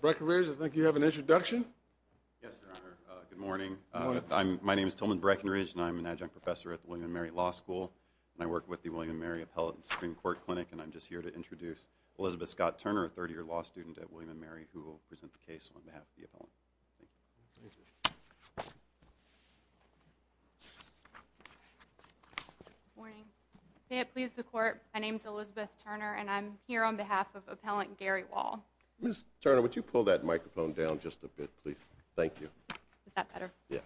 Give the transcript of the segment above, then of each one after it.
Breckenridge, I think you have an introduction. Yes, Your Honor. Good morning. My name is Tillman Breckenridge, and I'm an adjunct professor at the William & Mary Law School. I work with the William & Mary Appellate and Supreme Court Clinic, and I'm just here to introduce Elizabeth Scott-Turner, a third-year law student at William & Mary, who will present the case on behalf of the appellant. Thank you. Thank you. Good morning. May it please the Court, my name is Elizabeth Turner, and I'm here on behalf of Appellant Gary Wall. Ms. Turner, would you pull that microphone down just a bit, please? Thank you. Is that better? Yes.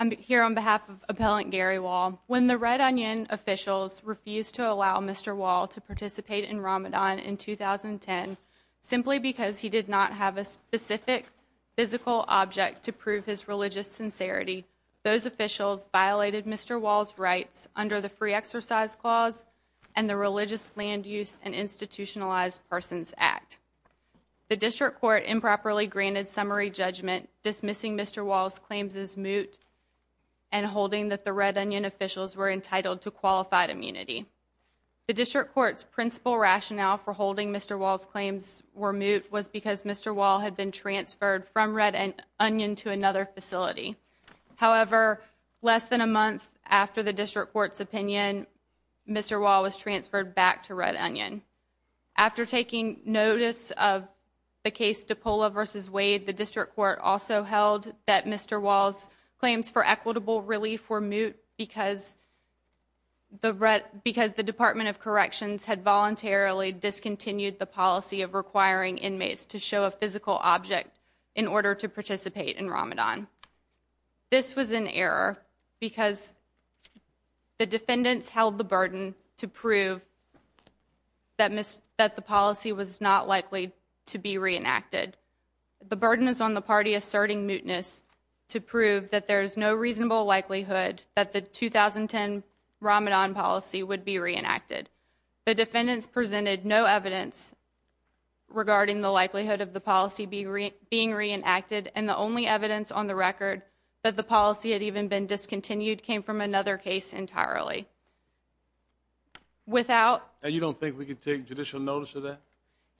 I'm here on behalf of Appellant Gary Wall. When the Red Onion officials refused to allow Mr. Wall to participate in Ramadan in 2010 simply because he did not have a specific physical object to prove his religious sincerity, those officials violated Mr. Wall's rights under the Free Exercise Clause and the Religious Land Use and Institutionalized Persons Act. The District Court improperly granted summary judgment dismissing Mr. Wall's claims as moot and holding that the Red Onion officials were entitled to qualified immunity. The District Court's principal rationale for holding Mr. Wall's claims were moot was because Mr. Wall had been transferred from Red Onion to another facility. However, less than a month after the District Court's opinion, Mr. Wall was transferred back to Red Onion. After taking notice of the case DiPaola v. Wade, the District Court also held that Mr. Wall's claims for equitable relief were moot because the Department of Corrections had voluntarily discontinued the policy of requiring inmates to show a physical object in order to participate in Ramadan. This was an error because the defendants held the burden to prove that the policy was not likely to be reenacted. The burden is on the party asserting mootness to prove that there is no reasonable likelihood that the 2010 Ramadan policy would be reenacted. The defendants presented no evidence regarding the likelihood of the policy being reenacted and the only evidence on the record that the policy had even been discontinued came from another case entirely. And you don't think we could take judicial notice of that?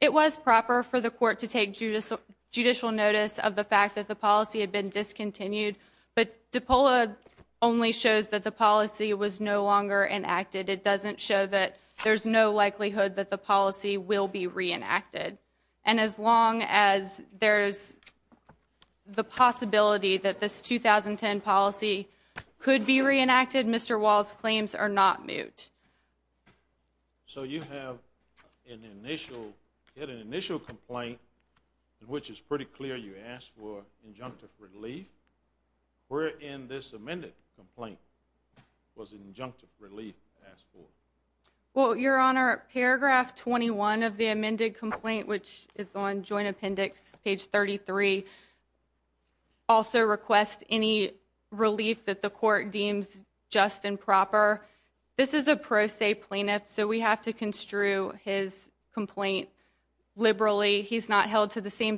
It was proper for the court to take judicial notice of the fact that the policy had been discontinued, but DiPaola only shows that the policy was no longer enacted. It doesn't show that there's no likelihood that the policy will be reenacted. And as long as there's the possibility that this 2010 policy could be reenacted, Mr. Wall's claims are not moot. So you had an initial complaint in which it's pretty clear you asked for injunctive relief. Where in this amended complaint was injunctive relief asked for? Well, Your Honor, paragraph 21 of the amended complaint, which is on Joint Appendix page 33, also requests any relief that the court deems just and proper. This is a pro se plaintiff, so we have to construe his complaint liberally. He's not held to the same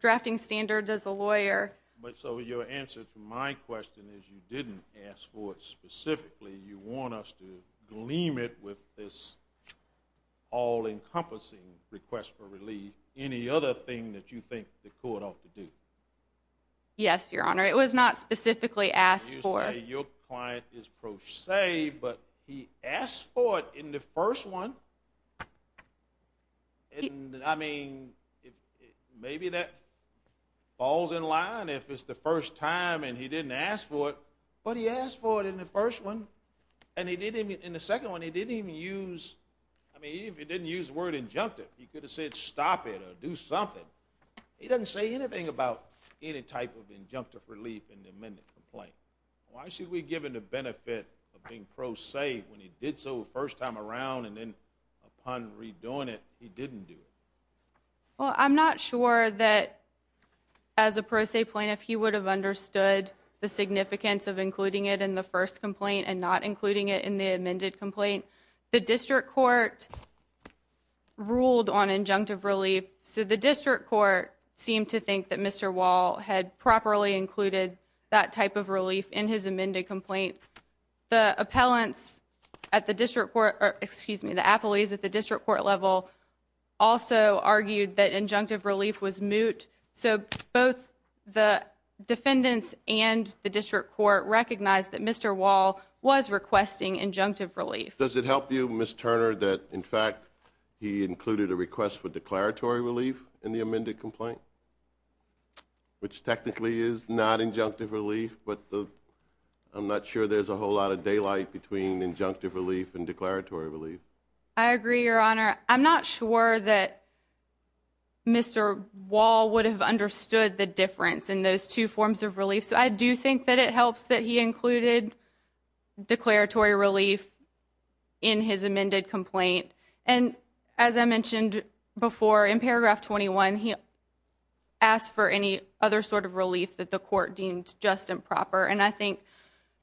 drafting standard as a lawyer. So your answer to my question is you didn't ask for it specifically. You want us to gleam it with this all-encompassing request for relief. Any other thing that you think the court ought to do? Yes, Your Honor. It was not specifically asked for. Okay. Your client is pro se, but he asked for it in the first one. I mean, maybe that falls in line if it's the first time and he didn't ask for it. But he asked for it in the first one, and in the second one he didn't even use the word injunctive. He could have said stop it or do something. He doesn't say anything about any type of injunctive relief in the amended complaint. Why should we give him the benefit of being pro se when he did so the first time around, and then upon redoing it he didn't do it? Well, I'm not sure that as a pro se plaintiff he would have understood the significance of including it in the first complaint and not including it in the amended complaint. The district court ruled on injunctive relief. So the district court seemed to think that Mr. Wall had properly included that type of relief in his amended complaint. The appellants at the district court, excuse me, the appellees at the district court level also argued that injunctive relief was moot. So both the defendants and the district court recognized that Mr. Wall was requesting injunctive relief. Does it help you, Ms. Turner, that in fact he included a request for declaratory relief in the amended complaint? Which technically is not injunctive relief, but I'm not sure there's a whole lot of daylight between injunctive relief and declaratory relief. I agree, Your Honor. I'm not sure that Mr. Wall would have understood the difference in those two forms of relief. So I do think that it helps that he included declaratory relief in his amended complaint. And as I mentioned before, in paragraph 21 he asked for any other sort of relief that the court deemed just and proper. And I think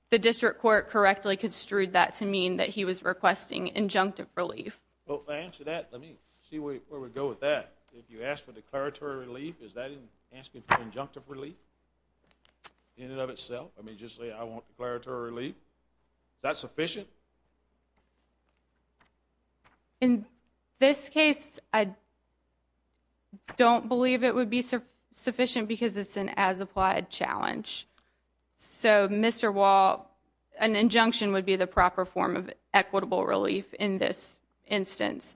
the district court correctly construed that to mean that he was requesting injunctive relief. Well, to answer that, let me see where we go with that. If you ask for declaratory relief, is that asking for injunctive relief in and of itself? I mean, just say I want declaratory relief. Is that sufficient? In this case, I don't believe it would be sufficient because it's an as-applied challenge. So Mr. Wall, an injunction would be the proper form of equitable relief in this instance.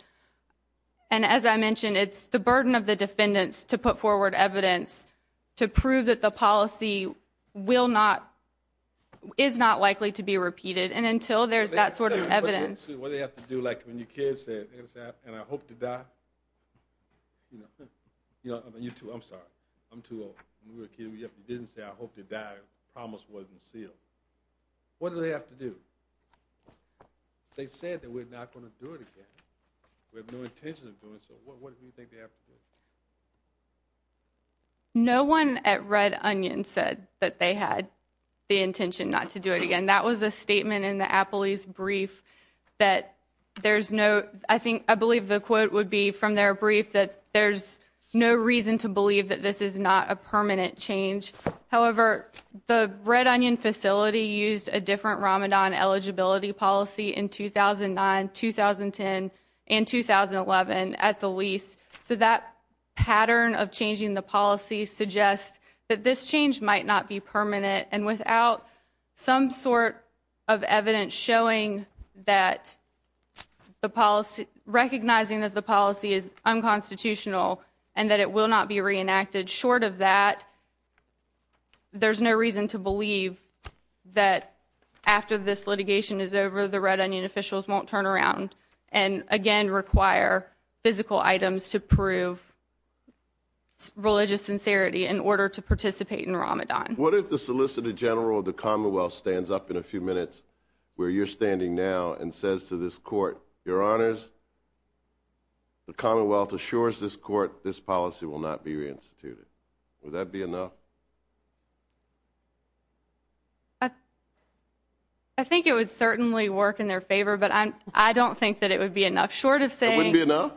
And as I mentioned, it's the burden of the defendants to put forward evidence to prove that the policy is not likely to be repeated. And until there's that sort of evidence. What do they have to do? Like when your kid said, and I hope to die. I'm sorry. I'm too old. You didn't say I hope to die. The promise wasn't sealed. What do they have to do? They said that we're not going to do it again. We have no intention of doing so. What do you think they have to do? No one at Red Onion said that they had the intention not to do it again. That was a statement in the appellee's brief that there's no. I think I believe the quote would be from their brief that there's no reason to believe that this is not a permanent change. However, the Red Onion facility used a different Ramadan eligibility policy in 2009, 2010, and 2011 at the least. So that pattern of changing the policy suggests that this change might not be permanent. And without some sort of evidence showing that the policy recognizing that the policy is unconstitutional and that it will not be reenacted short of that. There's no reason to believe that after this litigation is over, the Red Onion officials won't turn around. And again, require physical items to prove religious sincerity in order to participate in Ramadan. What if the Solicitor General of the Commonwealth stands up in a few minutes where you're standing now and says to this court, Your Honors, the Commonwealth assures this court this policy will not be reinstituted. Would that be enough? I think it would certainly work in their favor, but I don't think that it would be enough short of saying. It wouldn't be enough?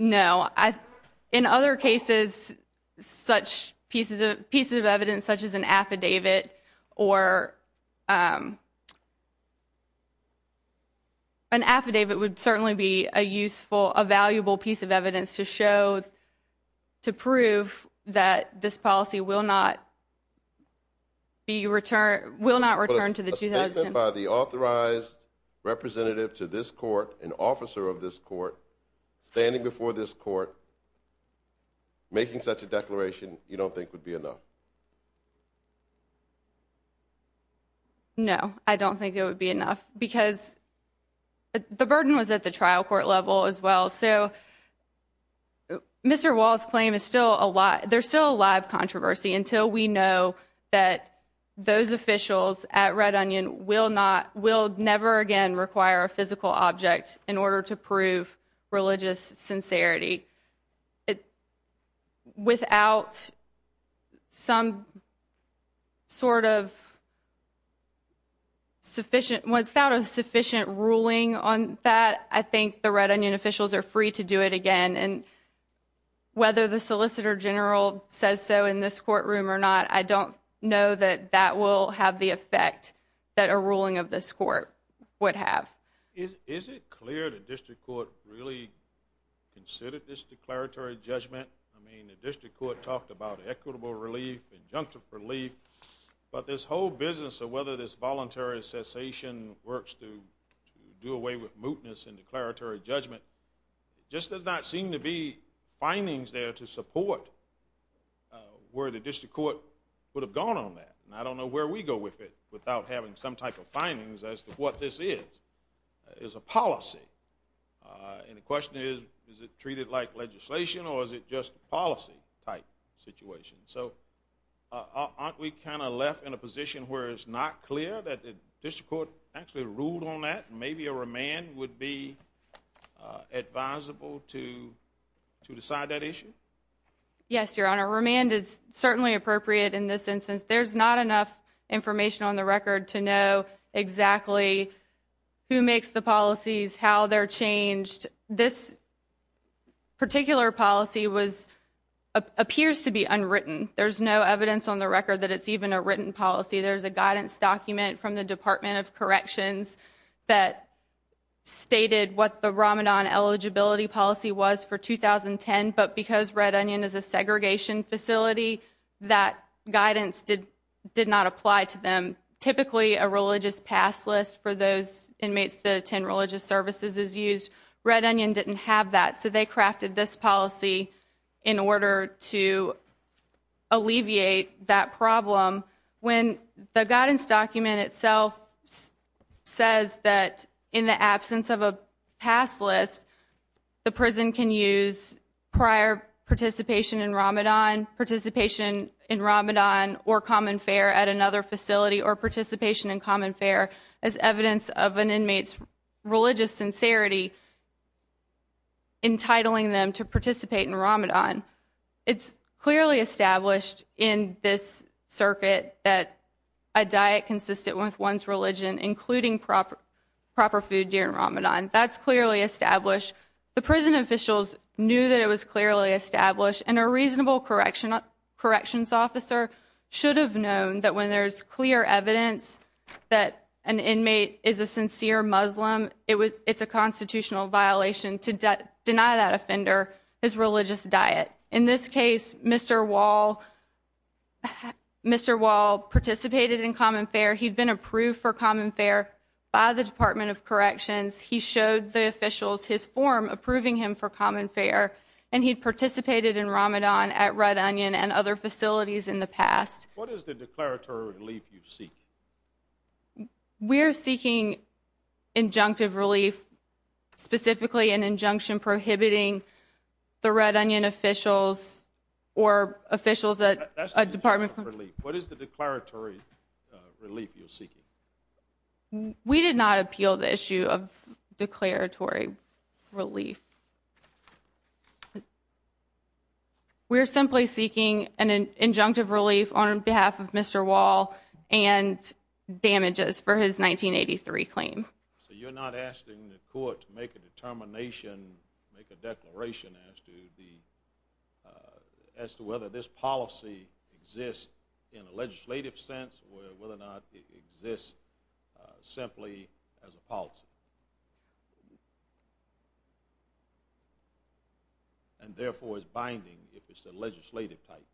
No. In other cases, such pieces of evidence, such as an affidavit or. An affidavit would certainly be a useful, a valuable piece of evidence to show. To prove that this policy will not. The return will not return to the by the authorized representative to this court, an officer of this court standing before this court. Making such a declaration, you don't think would be enough. No, I don't think it would be enough because. The burden was at the trial court level as well. So. Mr. Wall's claim is still a lot. There's still a live controversy until we know that those officials at Red Onion will not will never again require a physical object in order to prove religious sincerity. It. Without. Some. Sort of. Sufficient without a sufficient ruling on that, I think the Red Onion officials are free to do it again and. Whether the solicitor general says so in this courtroom or not, I don't know that that will have the effect that a ruling of this court would have. Is it clear that district court really considered this declaratory judgment? I mean, the district court talked about equitable relief, injunctive relief, but this whole business of whether this voluntary cessation works to do away with mootness and declaratory judgment. Just does not seem to be findings there to support where the district court would have gone on that. And I don't know where we go with it without having some type of findings as to what this is. Is a policy. And the question is, is it treated like legislation or is it just policy type situation? So aren't we kind of left in a position where it's not clear that the district court actually ruled on that? Maybe a remand would be advisable to to decide that issue. Yes, your honor. Remand is certainly appropriate in this instance. There's not enough information on the record to know exactly who makes the policies, how they're changed. This particular policy was appears to be unwritten. There's no evidence on the record that it's even a written policy. There's a guidance document from the Department of Corrections that stated what the Ramadan eligibility policy was for 2010. But because Red Onion is a segregation facility, that guidance did not apply to them. Typically, a religious pass list for those inmates that attend religious services is used. Red Onion didn't have that, so they crafted this policy in order to alleviate that problem. When the guidance document itself says that in the absence of a pass list, the prison can use prior participation in Ramadan, participation in Ramadan or common fare at another facility, or participation in common fare as evidence of an inmate's religious sincerity entitling them to participate in Ramadan. It's clearly established in this circuit that a diet consistent with one's religion, including proper food during Ramadan, that's clearly established. The prison officials knew that it was clearly established, and a reasonable corrections officer should have known that when there's clear evidence that an inmate is a sincere Muslim, it's a constitutional violation to deny that offender his religious diet. In this case, Mr. Wall participated in common fare. He'd been approved for common fare by the Department of Corrections. He showed the officials his form approving him for common fare, and he participated in Ramadan at Red Onion and other facilities in the past. What is the declaratory relief you seek? We're seeking injunctive relief, specifically an injunction prohibiting the Red Onion officials or officials at a department. What is the declaratory relief you're seeking? We did not appeal the issue of declaratory relief. We're simply seeking an injunctive relief on behalf of Mr. Wall and damages for his 1983 claim. So you're not asking the court to make a determination, make a declaration, as to whether this policy exists in a legislative sense or whether or not it exists simply as a policy? And therefore, it's binding if it's a legislative type.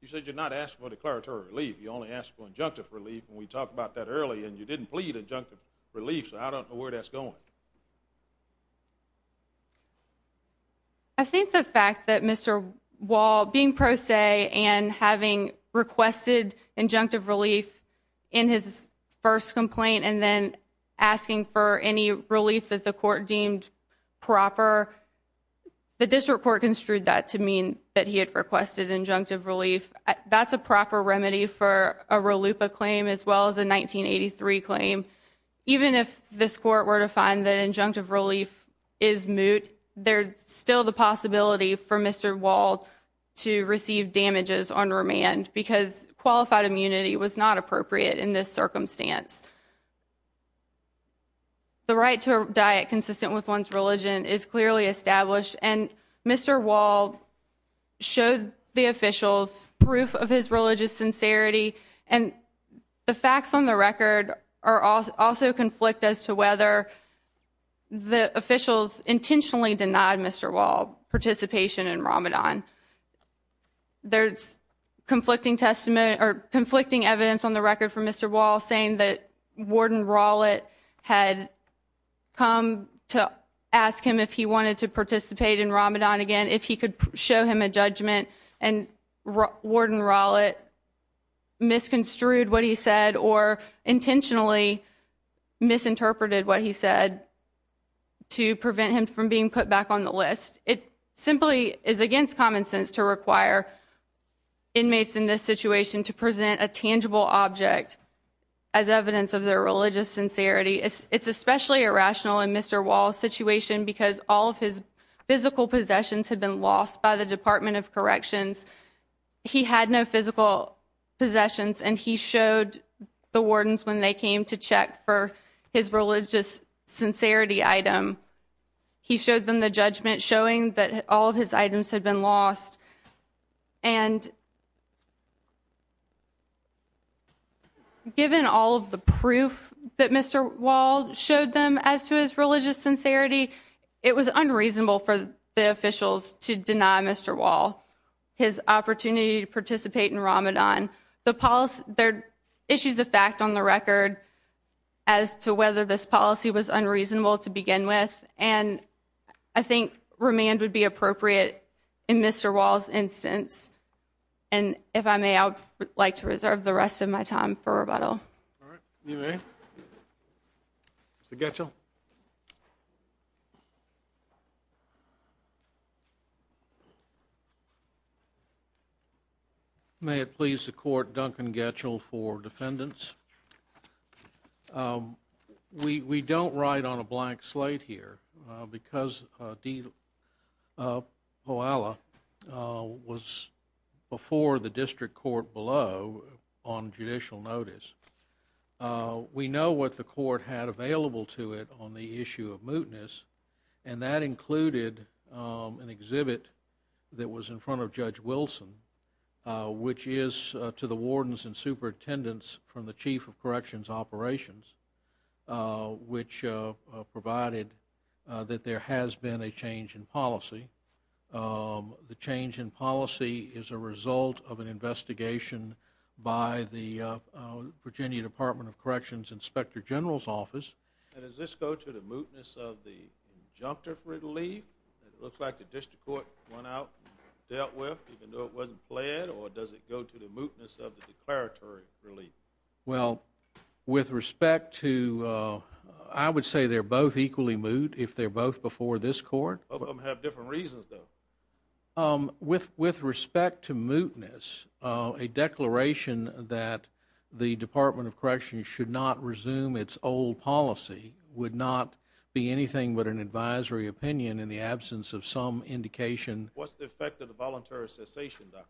You said you're not asking for declaratory relief. You only asked for injunctive relief, and we talked about that earlier, and you didn't plead injunctive relief. So I don't know where that's going. I think the fact that Mr. Wall, being pro se and having requested injunctive relief in his first complaint and then asking for any relief that the court deemed proper, the district court construed that to mean that he had requested injunctive relief. That's a proper remedy for a RLUIPA claim as well as a 1983 claim. Even if this court were to find that injunctive relief is moot, there's still the possibility for Mr. Wall to receive damages on remand because qualified immunity was not appropriate in this circumstance. The right to a diet consistent with one's religion is clearly established, and Mr. Wall showed the officials proof of his religious sincerity, and the facts on the record also conflict as to whether the officials intentionally denied Mr. Wall participation in Ramadan. There's conflicting evidence on the record for Mr. Wall saying that Warden Rowlett had come to ask him if he wanted to participate in Ramadan again, if he could show him a judgment, and Warden Rowlett misconstrued what he said or intentionally misinterpreted what he said to prevent him from being put back on the list. It simply is against common sense to require inmates in this situation to present a tangible object as evidence of their religious sincerity. It's especially irrational in Mr. Wall's situation because all of his physical possessions had been lost by the Department of Corrections. He had no physical possessions, and he showed the wardens when they came to check for his religious sincerity item. He showed them the judgment showing that all of his items had been lost, and given all of the proof that Mr. Wall showed them as to his religious sincerity, it was unreasonable for the officials to deny Mr. Wall his opportunity to participate in Ramadan. There are issues of fact on the record as to whether this policy was unreasonable to begin with, and I think remand would be appropriate in Mr. Wall's instance. And if I may, I would like to reserve the rest of my time for rebuttal. All right. You may. Mr. Getchell. Thank you, Your Honor. May it please the Court, Duncan Getchell for defendants. We don't write on a blank slate here because Diwala was before the district court below on judicial notice. We know what the court had available to it on the issue of mootness, and that included an exhibit that was in front of Judge Wilson, which is to the wardens and superintendents from the Chief of Corrections Operations, which provided that there has been a change in policy. The change in policy is a result of an investigation by the Virginia Department of Corrections Inspector General's Office. And does this go to the mootness of the injunctive relief that it looks like the district court went out and dealt with, even though it wasn't pled, or does it go to the mootness of the declaratory relief? Well, with respect to, I would say they're both equally moot if they're both before this court. Both of them have different reasons, though. With respect to mootness, a declaration that the Department of Corrections should not resume its old policy would not be anything but an advisory opinion in the absence of some indication. What's the effect of the voluntary cessation doctrine?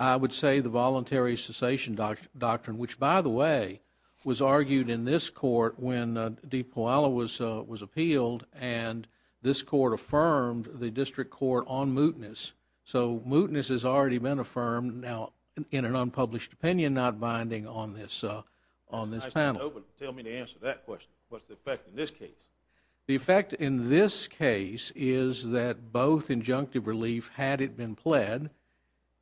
I would say the voluntary cessation doctrine, which, by the way, was argued in this court when Diwala was appealed and this court affirmed the district court on mootness. So mootness has already been affirmed now in an unpublished opinion, not binding on this panel. Tell me the answer to that question. What's the effect in this case? The effect in this case is that both injunctive relief, had it been pled,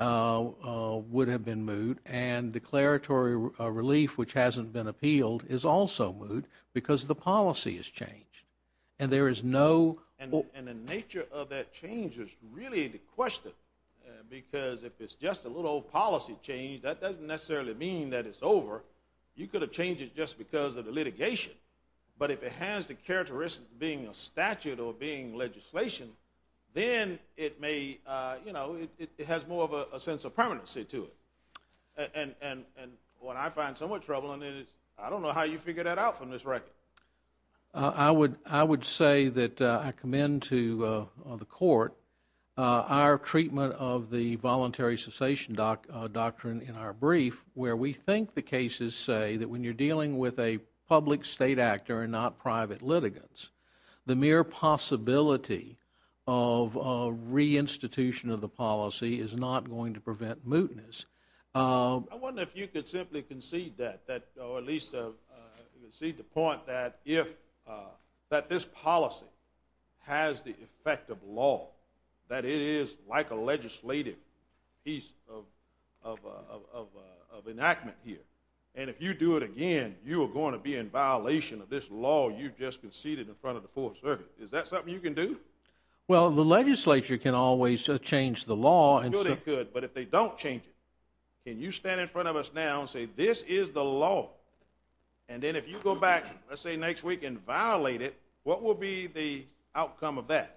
would have been moot, and declaratory relief, which hasn't been appealed, is also moot because the policy has changed. And the nature of that change is really the question because if it's just a little old policy change, that doesn't necessarily mean that it's over. You could have changed it just because of the litigation, but if it has the characteristics of being a statute or being legislation, then it has more of a sense of permanency to it. And what I find somewhat troubling is, I don't know how you figure that out from this record. I would say that I commend to the court our treatment of the voluntary cessation doctrine in our brief, where we think the cases say that when you're dealing with a public state actor and not private litigants, the mere possibility of reinstitution of the policy is not going to prevent mootness. I wonder if you could simply concede that, or at least concede the point that this policy has the effect of law, that it is like a legislative piece of enactment here, and if you do it again, you are going to be in violation of this law you've just conceded in front of the Fourth Circuit. Is that something you can do? Well, the legislature can always change the law. Sure they could, but if they don't change it, can you stand in front of us now and say this is the law, and then if you go back, let's say, next week and violate it, what will be the outcome of that?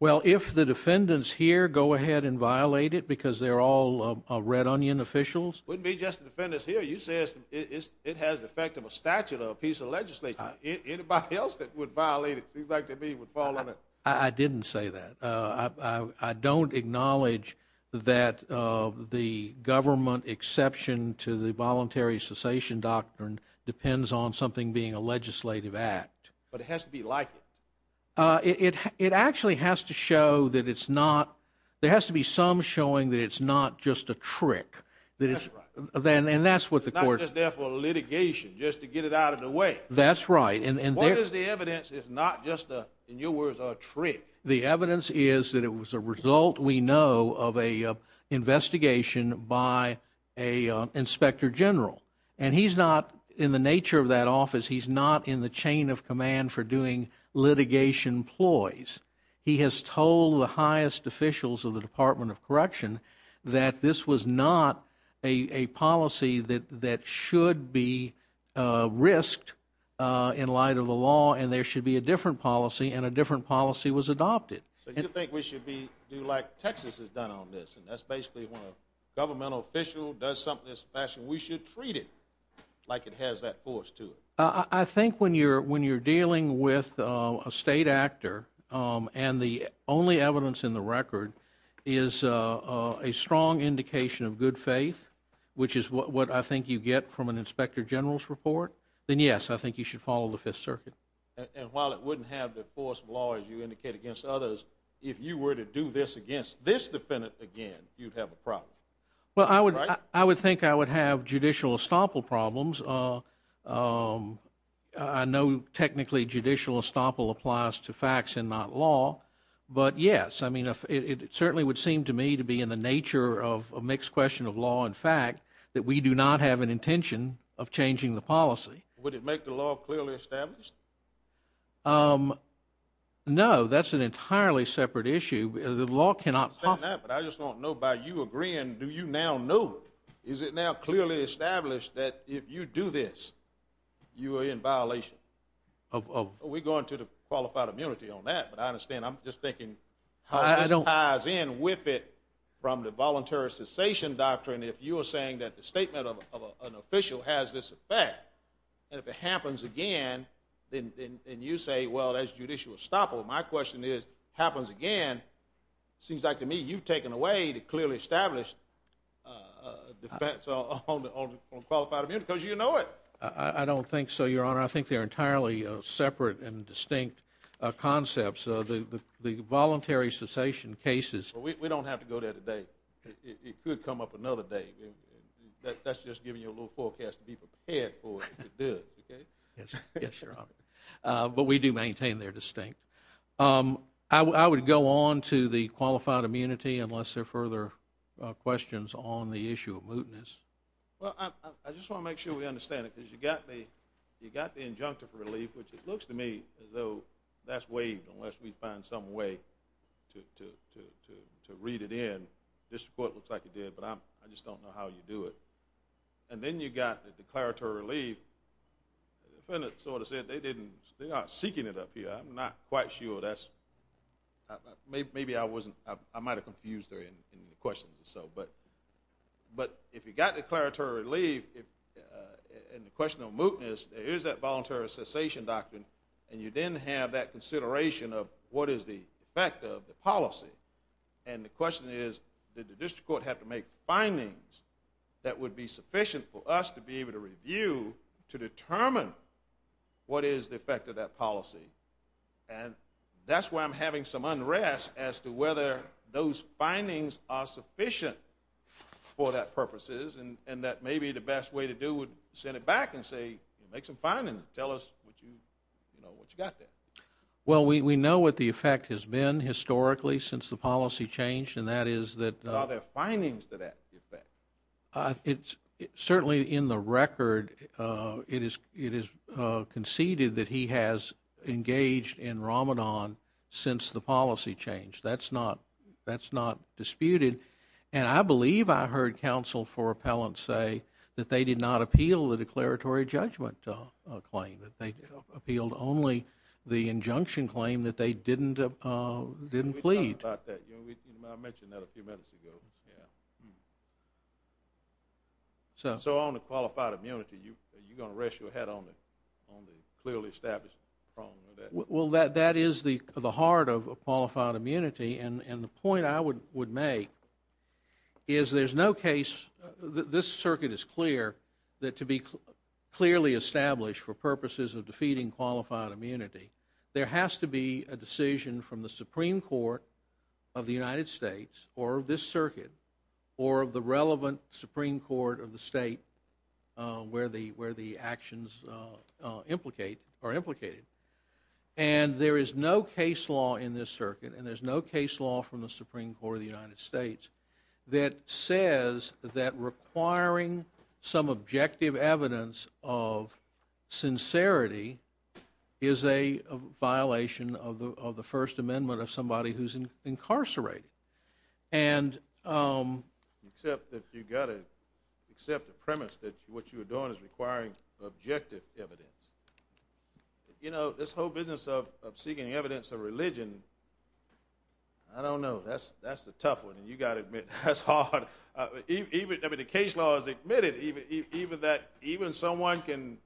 Well, if the defendants here go ahead and violate it because they're all red onion officials? It wouldn't be just the defendants here. You said it has the effect of a statute or a piece of legislation. Anybody else that would violate it, if you'd like to be, would fall under it. I didn't say that. I don't acknowledge that the government exception to the voluntary cessation doctrine depends on something being a legislative act. But it has to be like it. It actually has to show that it's not. There has to be some showing that it's not just a trick. That's right. And that's what the court. It's not just there for litigation, just to get it out of the way. That's right. What is the evidence that it's not just, in your words, a trick? The evidence is that it was a result, we know, of an investigation by an inspector general. And he's not, in the nature of that office, he's not in the chain of command for doing litigation ploys. He has told the highest officials of the Department of Correction that this was not a policy that should be risked in light of the law and there should be a different policy and a different policy was adopted. So you think we should do like Texas has done on this and that's basically when a governmental official does something in this fashion, we should treat it like it has that force to it? I think when you're dealing with a state actor and the only evidence in the record is a strong indication of good faith, which is what I think you get from an inspector general's report, then yes, I think you should follow the Fifth Circuit. And while it wouldn't have the force of law, as you indicate, against others, if you were to do this against this defendant again, you'd have a problem. Well, I would think I would have judicial estoppel problems. I know technically judicial estoppel applies to facts and not law, but yes, it certainly would seem to me to be in the nature of a mixed question of law and fact that we do not have an intention of changing the policy. Would it make the law clearly established? No, that's an entirely separate issue. The law cannot possibly. I understand that, but I just want to know by you agreeing, do you now know? Is it now clearly established that if you do this, you are in violation? We're going to the qualified immunity on that, but I understand. I'm just thinking how this ties in with it from the voluntary cessation doctrine if you are saying that the statement of an official has this effect, and if it happens again, then you say, well, that's judicial estoppel. My question is, if it happens again, it seems like to me you've taken away the clearly established defense on qualified immunity because you know it. I don't think so, Your Honor. I think they're entirely separate and distinct concepts. The voluntary cessation cases. We don't have to go there today. But it could come up another day. That's just giving you a little forecast to be prepared for if it does. Yes, Your Honor. But we do maintain they're distinct. I would go on to the qualified immunity unless there are further questions on the issue of mootness. I just want to make sure we understand it because you got the injunctive relief, which it looks to me as though that's waived unless we find some way to read it in. This report looks like it did, but I just don't know how you do it. And then you got the declaratory relief. The defendant sort of said they aren't seeking it up here. I'm not quite sure. Maybe I might have confused her in the questions. But if you got declaratory relief and the question of mootness, there is that voluntary cessation doctrine, and you then have that consideration of what is the effect of the policy. And the question is, did the district court have to make findings that would be sufficient for us to be able to review to determine what is the effect of that policy? And that's why I'm having some unrest as to whether those findings are sufficient for that purposes and that maybe the best way to do it would send it back and say make some findings and tell us what you got there. Well, we know what the effect has been historically since the policy changed, and that is that the findings to that effect. Certainly in the record it is conceded that he has engaged in Ramadan since the policy changed. That's not disputed. And I believe I heard counsel for appellants say that they did not appeal the declaratory judgment claim, that they appealed only the injunction claim that they didn't plead. We talked about that. I mentioned that a few minutes ago. So on the qualified immunity, are you going to rest your head on the clearly established prong of that? Well, that is the heart of qualified immunity. And the point I would make is there's no case, this circuit is clear that to be clearly established for purposes of defeating qualified immunity, there has to be a decision from the Supreme Court of the United States or this circuit or the relevant Supreme Court of the state where the actions are implicated. And there is no case law in this circuit and there's no case law from the Supreme Court of the United States that says that requiring some objective evidence of sincerity is a violation of the First Amendment of somebody who's incarcerated. Except if you've got to accept the premise that what you're doing is requiring objective evidence. You know, this whole business of seeking evidence of religion, I don't know, that's a tough one and you've got to admit that's hard. Even if the case law is admitted, even someone can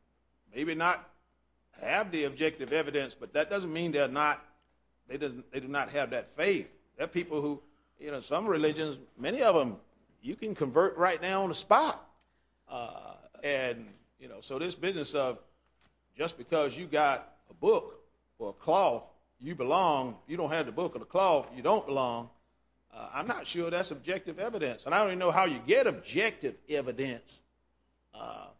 maybe not have the objective evidence, but that doesn't mean they do not have that faith. There are people who, some religions, many of them, you can convert right now on the spot. And, you know, so this business of just because you've got a book or a cloth, you belong, you don't have the book or the cloth, you don't belong, I'm not sure that's objective evidence. And I don't even know how you get objective evidence. I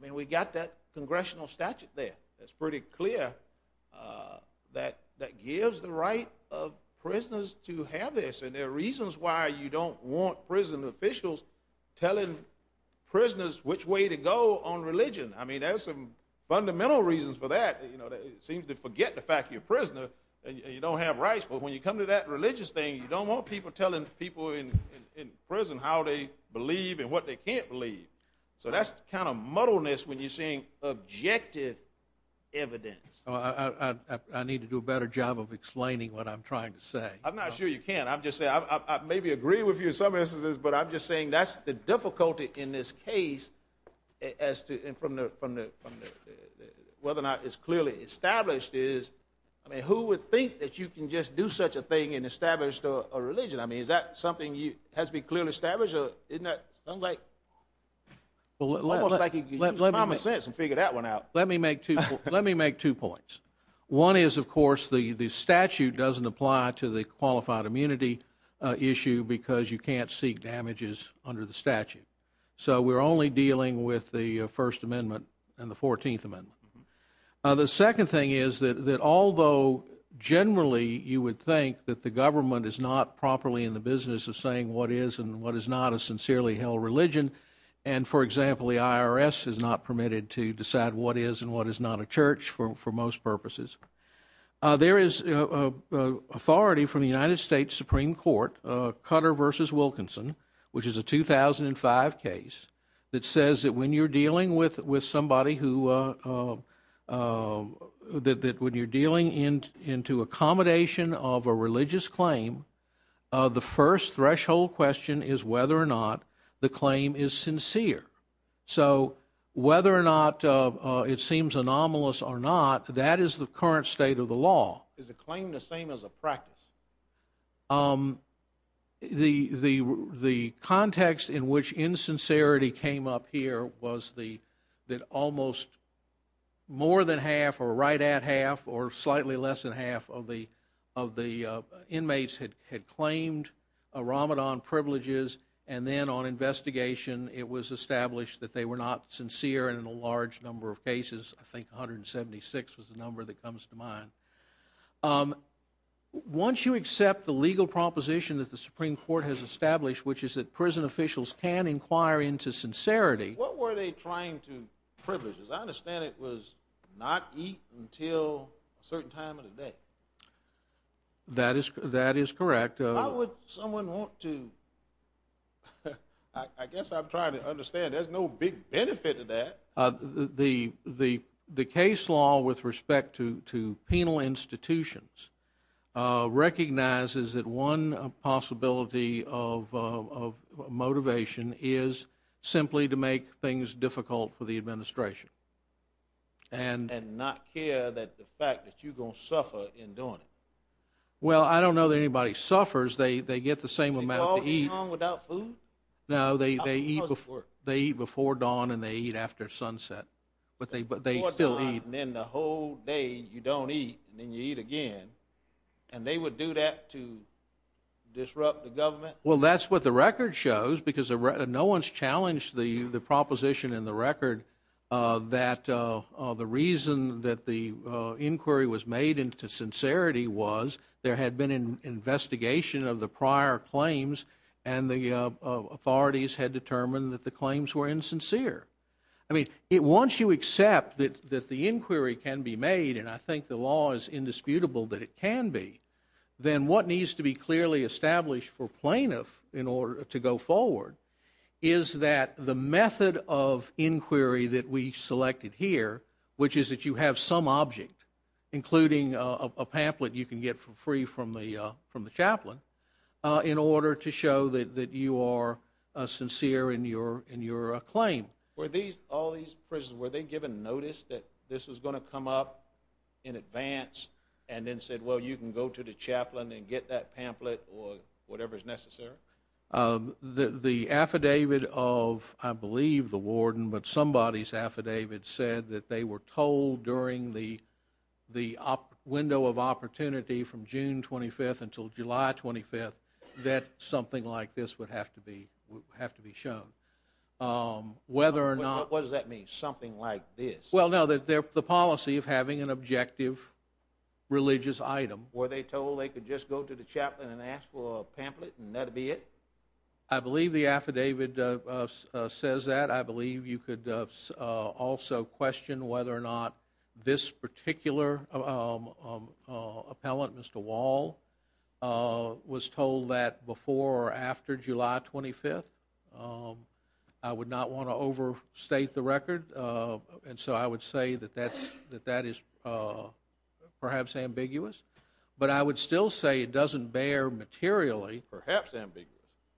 mean, we've got that congressional statute there that's pretty clear that gives the right of prisoners to have this. And there are reasons why you don't want prison officials telling prisoners which way to go on religion. I mean, there's some fundamental reasons for that. It seems to forget the fact you're a prisoner and you don't have rights. But when you come to that religious thing, you don't want people telling people in prison how they believe and what they can't believe. So that's the kind of muddleness when you're seeing objective evidence. I need to do a better job of explaining what I'm trying to say. I'm not sure you can. I'm just saying I maybe agree with you in some instances, but I'm just saying that's the difficulty in this case as to whether or not it's clearly established is, I mean, who would think that you can just do such a thing and establish a religion? I mean, is that something that has to be clearly established? Isn't that almost like you can use common sense and figure that one out? Let me make two points. One is, of course, the statute doesn't apply to the qualified immunity issue because you can't seek damages under the statute. So we're only dealing with the First Amendment and the Fourteenth Amendment. The second thing is that although generally you would think that the government is not properly in the business of saying what is and what is not a sincerely held religion, and, for example, the IRS is not permitted to decide what is and what is not a church for most purposes, there is authority from the United States Supreme Court, Cutter v. Wilkinson, which is a 2005 case that says that when you're dealing with somebody who, that when you're dealing into accommodation of a religious claim, the first threshold question is whether or not the claim is sincere. So whether or not it seems anomalous or not, that is the current state of the law. Is the claim the same as a practice? The context in which insincerity came up here was that almost more than half or right at half or slightly less than half of the inmates had claimed Ramadan privileges, and then on investigation it was established that they were not sincere in a large number of cases. I think 176 was the number that comes to mind. Once you accept the legal proposition that the Supreme Court has established, which is that prison officials can inquire into sincerity. What were they trying to privilege? Because I understand it was not eaten until a certain time of the day. That is correct. Why would someone want to? I guess I'm trying to understand. There's no big benefit to that. The case law with respect to penal institutions recognizes that one possibility of motivation is simply to make things difficult for the administration. And not care that the fact that you're going to suffer in doing it. Well, I don't know that anybody suffers. They get the same amount to eat. Are you talking about without food? No, they eat before dawn and they eat after sunset, but they still eat. Before dawn and then the whole day you don't eat and then you eat again, and they would do that to disrupt the government? Well, that's what the record shows because no one's challenged the proposition in the record that the reason that the inquiry was made into sincerity was there had been an investigation of the prior claims and the authorities had determined that the claims were insincere. I mean, once you accept that the inquiry can be made, and I think the law is indisputable that it can be, then what needs to be clearly established for plaintiff in order to go forward is that the method of inquiry that we selected here, which is that you have some object, including a pamphlet you can get free from the chaplain, in order to show that you are sincere in your claim. Were all these prisoners, were they given notice that this was going to come up in advance and then said, well, you can go to the chaplain and get that pamphlet or whatever is necessary? The affidavit of, I believe, the warden, but somebody's affidavit said that they were told during the window of opportunity from June 25th until July 25th that something like this would have to be shown. What does that mean, something like this? Well, no, the policy of having an objective religious item. Were they told they could just go to the chaplain and ask for a pamphlet and that would be it? I believe the affidavit says that. I believe you could also question whether or not this particular appellant, Mr. Wall, was told that before or after July 25th. I would not want to overstate the record, and so I would say that that is perhaps ambiguous, but I would still say it doesn't bear materially. Perhaps ambiguous.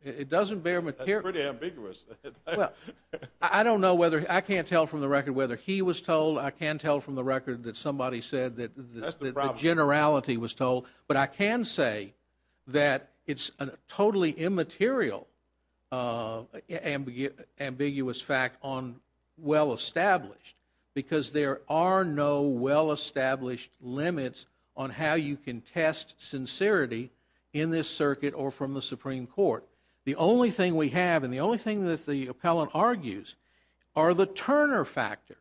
It doesn't bear materially. That's pretty ambiguous. I don't know whether, I can't tell from the record whether he was told, I can't tell from the record that somebody said that the generality was told, but I can say that it's a totally immaterial, ambiguous fact on well-established because there are no well-established limits on how you can test sincerity in this circuit or from the Supreme Court. The only thing we have and the only thing that the appellant argues are the Turner factors.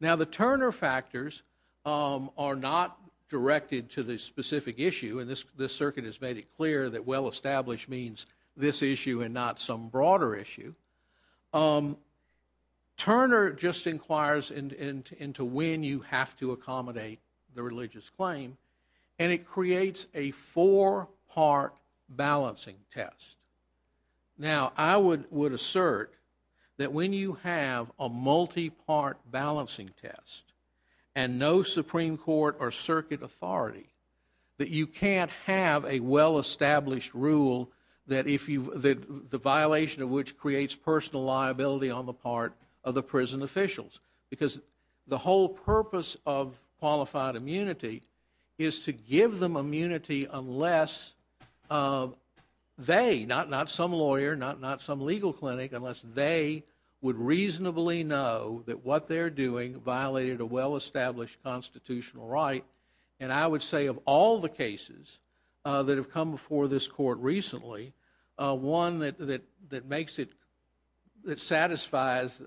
Now, the Turner factors are not directed to the specific issue, and this circuit has made it clear that well-established means this issue and not some broader issue. Turner just inquires into when you have to accommodate the religious claim, and it creates a four-part balancing test. Now, I would assert that when you have a multi-part balancing test and no Supreme Court or circuit authority, that you can't have a well-established rule that the violation of which creates personal liability on the part of the prison officials because the whole purpose of qualified immunity is to give them immunity unless they, not some lawyer, not some legal clinic, unless they would reasonably know that what they're doing violated a well-established constitutional right, and I would say of all the cases that have come before this court recently, one that satisfies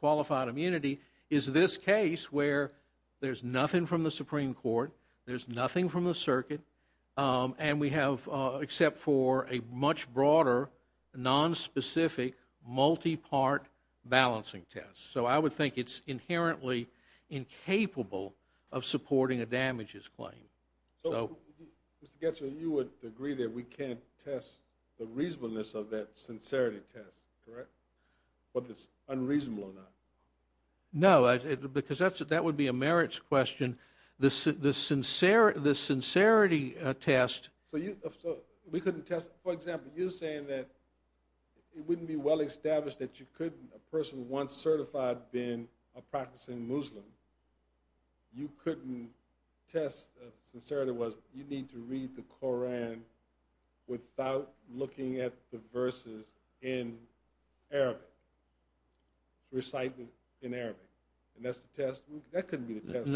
qualified immunity is this case where there's nothing from the Supreme Court, there's nothing from the circuit, and we have except for a much broader, nonspecific, multi-part balancing test. So I would think it's inherently incapable of supporting a damages claim. So, Mr. Getzler, you would agree that we can't test the reasonableness of that sincerity test, correct? Whether it's unreasonable or not. No, because that would be a merits question. The sincerity test... So we couldn't test... For example, you're saying that it wouldn't be well-established that you couldn't, a person once certified being a practicing Muslim, you couldn't test if sincerity was, you need to read the Koran without looking at the verses in Arabic, recitement in Arabic, and that's the test? That couldn't be the test.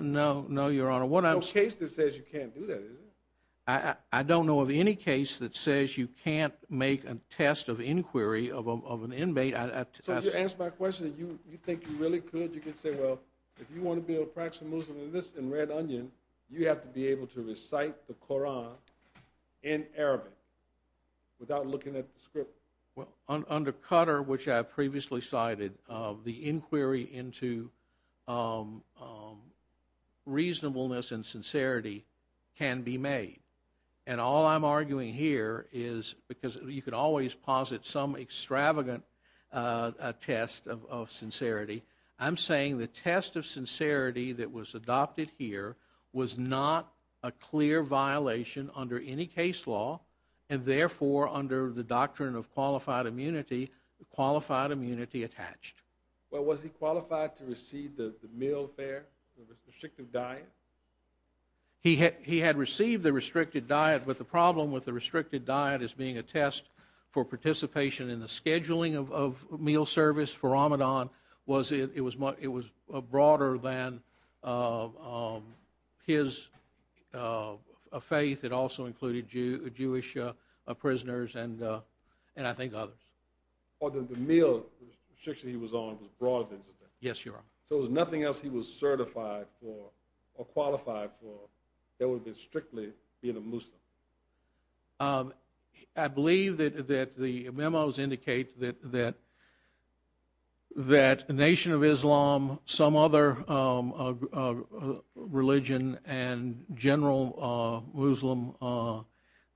No, Your Honor. There's no case that says you can't do that, is there? I don't know of any case that says you can't make a test of inquiry of an inmate. So to answer my question, you think you really could? You could say, well, if you want to be a practicing Muslim in Red Onion, you have to be able to recite the Koran in Arabic without looking at the script? Well, under Qatar, which I have previously cited, the inquiry into reasonableness and sincerity can be made. And all I'm arguing here is, because you could always posit some extravagant test of sincerity, I'm saying the test of sincerity that was adopted here was not a clear violation under any case law, and therefore under the doctrine of qualified immunity, qualified immunity attached. Well, was he qualified to receive the meal fare, the restrictive diet? He had received the restricted diet, but the problem with the restricted diet as being a test for participation in the scheduling of meal service for Ramadan was it was broader than his faith. It also included Jewish prisoners and I think others. The meal restriction he was on was broader than that? Yes, Your Honor. So there was nothing else he was certified for or qualified for that would be strictly being a Muslim? I believe that the memos indicate that a nation of Islam, some other religion, and general Muslim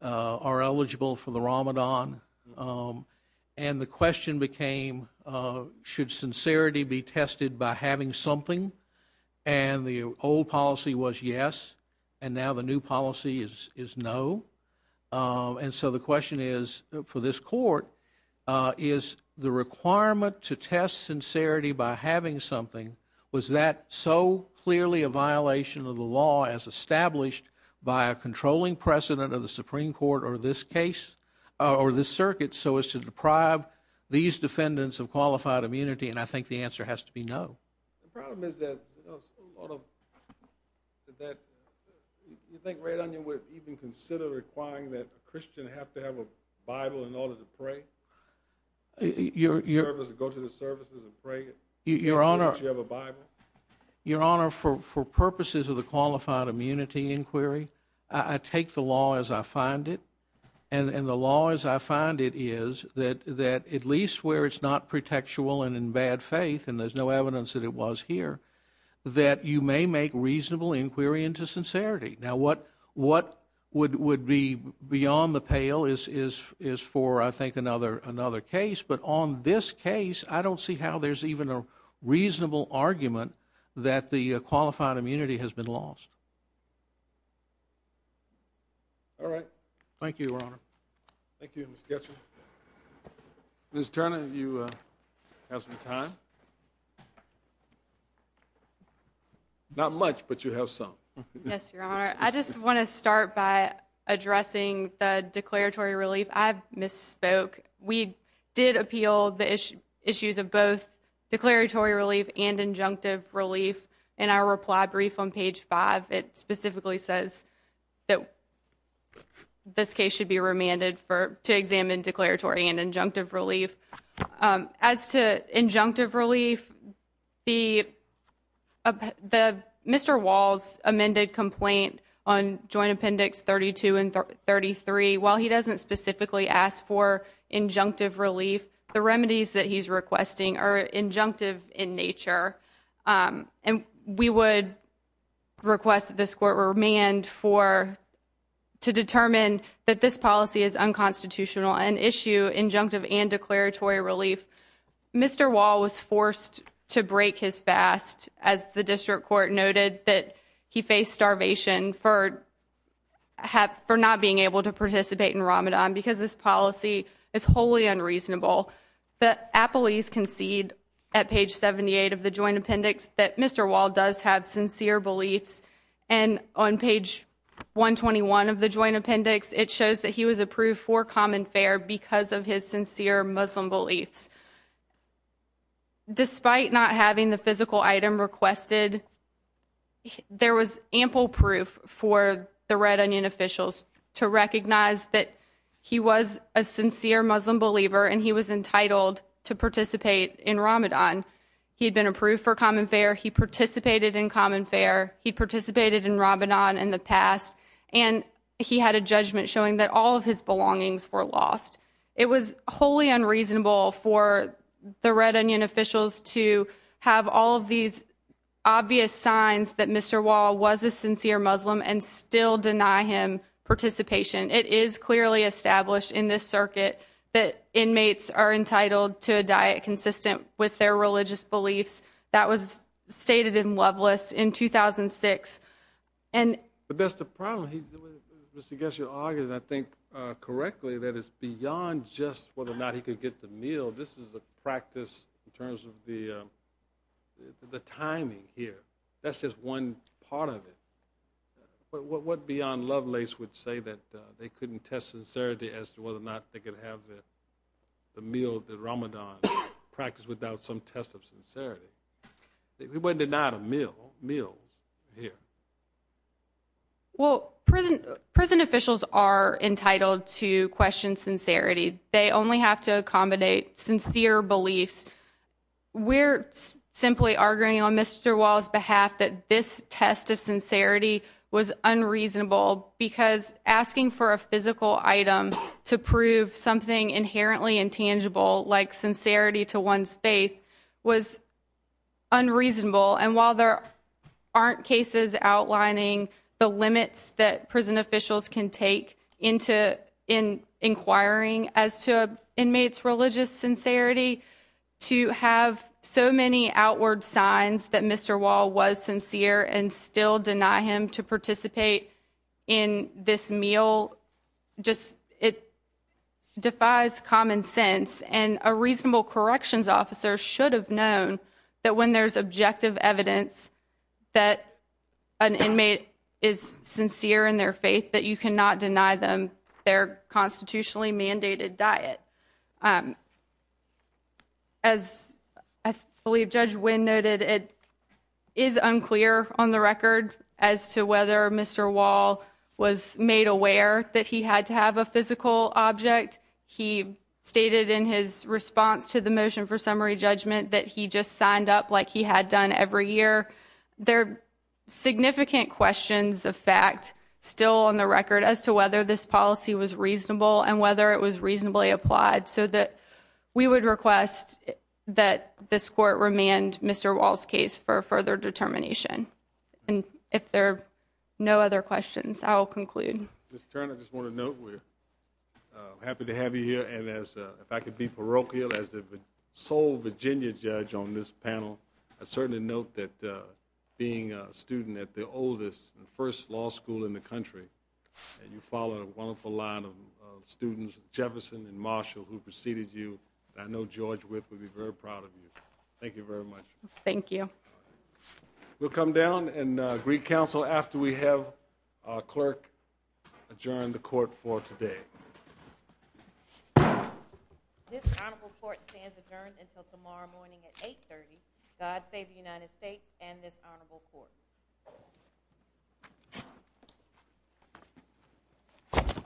are eligible for the Ramadan. And the question became, should sincerity be tested by having something? And the old policy was yes, and now the new policy is no. And so the question is, for this court, is the requirement to test sincerity by having something, was that so clearly a violation of the law as established by a controlling precedent of the Supreme Court or this case or this circuit so as to deprive these defendants of qualified immunity? And I think the answer has to be no. The problem is that you think Red Onion would even consider requiring that a Christian have to have a Bible in order to pray, go to the services and pray in order to have a Bible? Your Honor, for purposes of the qualified immunity inquiry, I take the law as I find it, and the law as I find it is that at least where it's not pretextual and in bad faith, and there's no evidence that it was here, that you may make reasonable inquiry into sincerity. Now what would be beyond the pale is for, I think, another case. But on this case, I don't see how there's even a reasonable argument that the qualified immunity has been lost. All right. Thank you, Your Honor. Thank you, Mr. Getchell. Ms. Turner, do you have some time? Not much, but you have some. Yes, Your Honor. I just want to start by addressing the declaratory relief. I misspoke. We did appeal the issues of both declaratory relief and injunctive relief. In our reply brief on page 5, it specifically says that this case should be remanded to examine declaratory and injunctive relief. As to injunctive relief, Mr. Wall's amended complaint on Joint Appendix 32 and 33, while he doesn't specifically ask for injunctive relief, the remedies that he's requesting are injunctive in nature. We would request that this court remand to determine that this policy is unconstitutional and issue injunctive and declaratory relief. Mr. Wall was forced to break his fast, as the district court noted, that he faced starvation for not being able to participate in Ramadan because this policy is wholly unreasonable. The appellees concede, at page 78 of the Joint Appendix, that Mr. Wall does have sincere beliefs. And on page 121 of the Joint Appendix, it shows that he was approved for common fair because of his sincere Muslim beliefs. Despite not having the physical item requested, there was ample proof for the Red Onion officials to recognize that he was a sincere Muslim believer and he was entitled to participate in Ramadan. He had been approved for common fair. He participated in common fair. He participated in Ramadan in the past. And he had a judgment showing that all of his belongings were lost. It was wholly unreasonable for the Red Onion officials to have all of these obvious signs that Mr. Wall was a sincere Muslim and still deny him participation. It is clearly established in this circuit that inmates are entitled to a diet consistent with their religious beliefs. That was stated in Loveless in 2006. But that's the problem. Mr. Gesher argues, I think, correctly, that it's beyond just whether or not he could get the meal. This is a practice in terms of the timing here. That's just one part of it. What beyond Loveless would say that they couldn't test sincerity as to whether or not they could have the meal, the Ramadan practice without some test of sincerity? He wasn't denied a meal here. Well, prison officials are entitled to question sincerity. They only have to accommodate sincere beliefs. We're simply arguing on Mr. Wall's behalf that this test of sincerity was unreasonable because asking for a physical item to prove something inherently intangible, like sincerity to one's faith, was unreasonable. And while there aren't cases outlining the limits that prison officials can take into inquiring as to inmates' religious sincerity, to have so many outward signs that Mr. Wall was sincere and still deny him to a reasonable corrections officer should have known that when there's objective evidence that an inmate is sincere in their faith that you cannot deny them their constitutionally mandated diet. As I believe Judge Wynn noted, it is unclear on the record as to whether Mr. Wall was made aware that he had to have a physical object. He stated in his response to the motion for summary judgment that he just signed up like he had done every year. There are significant questions of fact still on the record as to whether this policy was reasonable and whether it was reasonably applied so that we would request that this court remand Mr. Wall's case for further determination. And if there are no other questions, I will conclude. Mr. Turner, I just want to note we're happy to have you here. And if I could be parochial as the sole Virginia judge on this panel, I certainly note that being a student at the oldest and first law school in the country, and you follow a wonderful line of students, Jefferson and Marshall, who preceded you, I know George Witt would be very proud of you. Thank you very much. Thank you. We'll come down and greet counsel after we have our clerk adjourn the court for today. This honorable court stands adjourned until tomorrow morning at 8.30. God save the United States and this honorable court.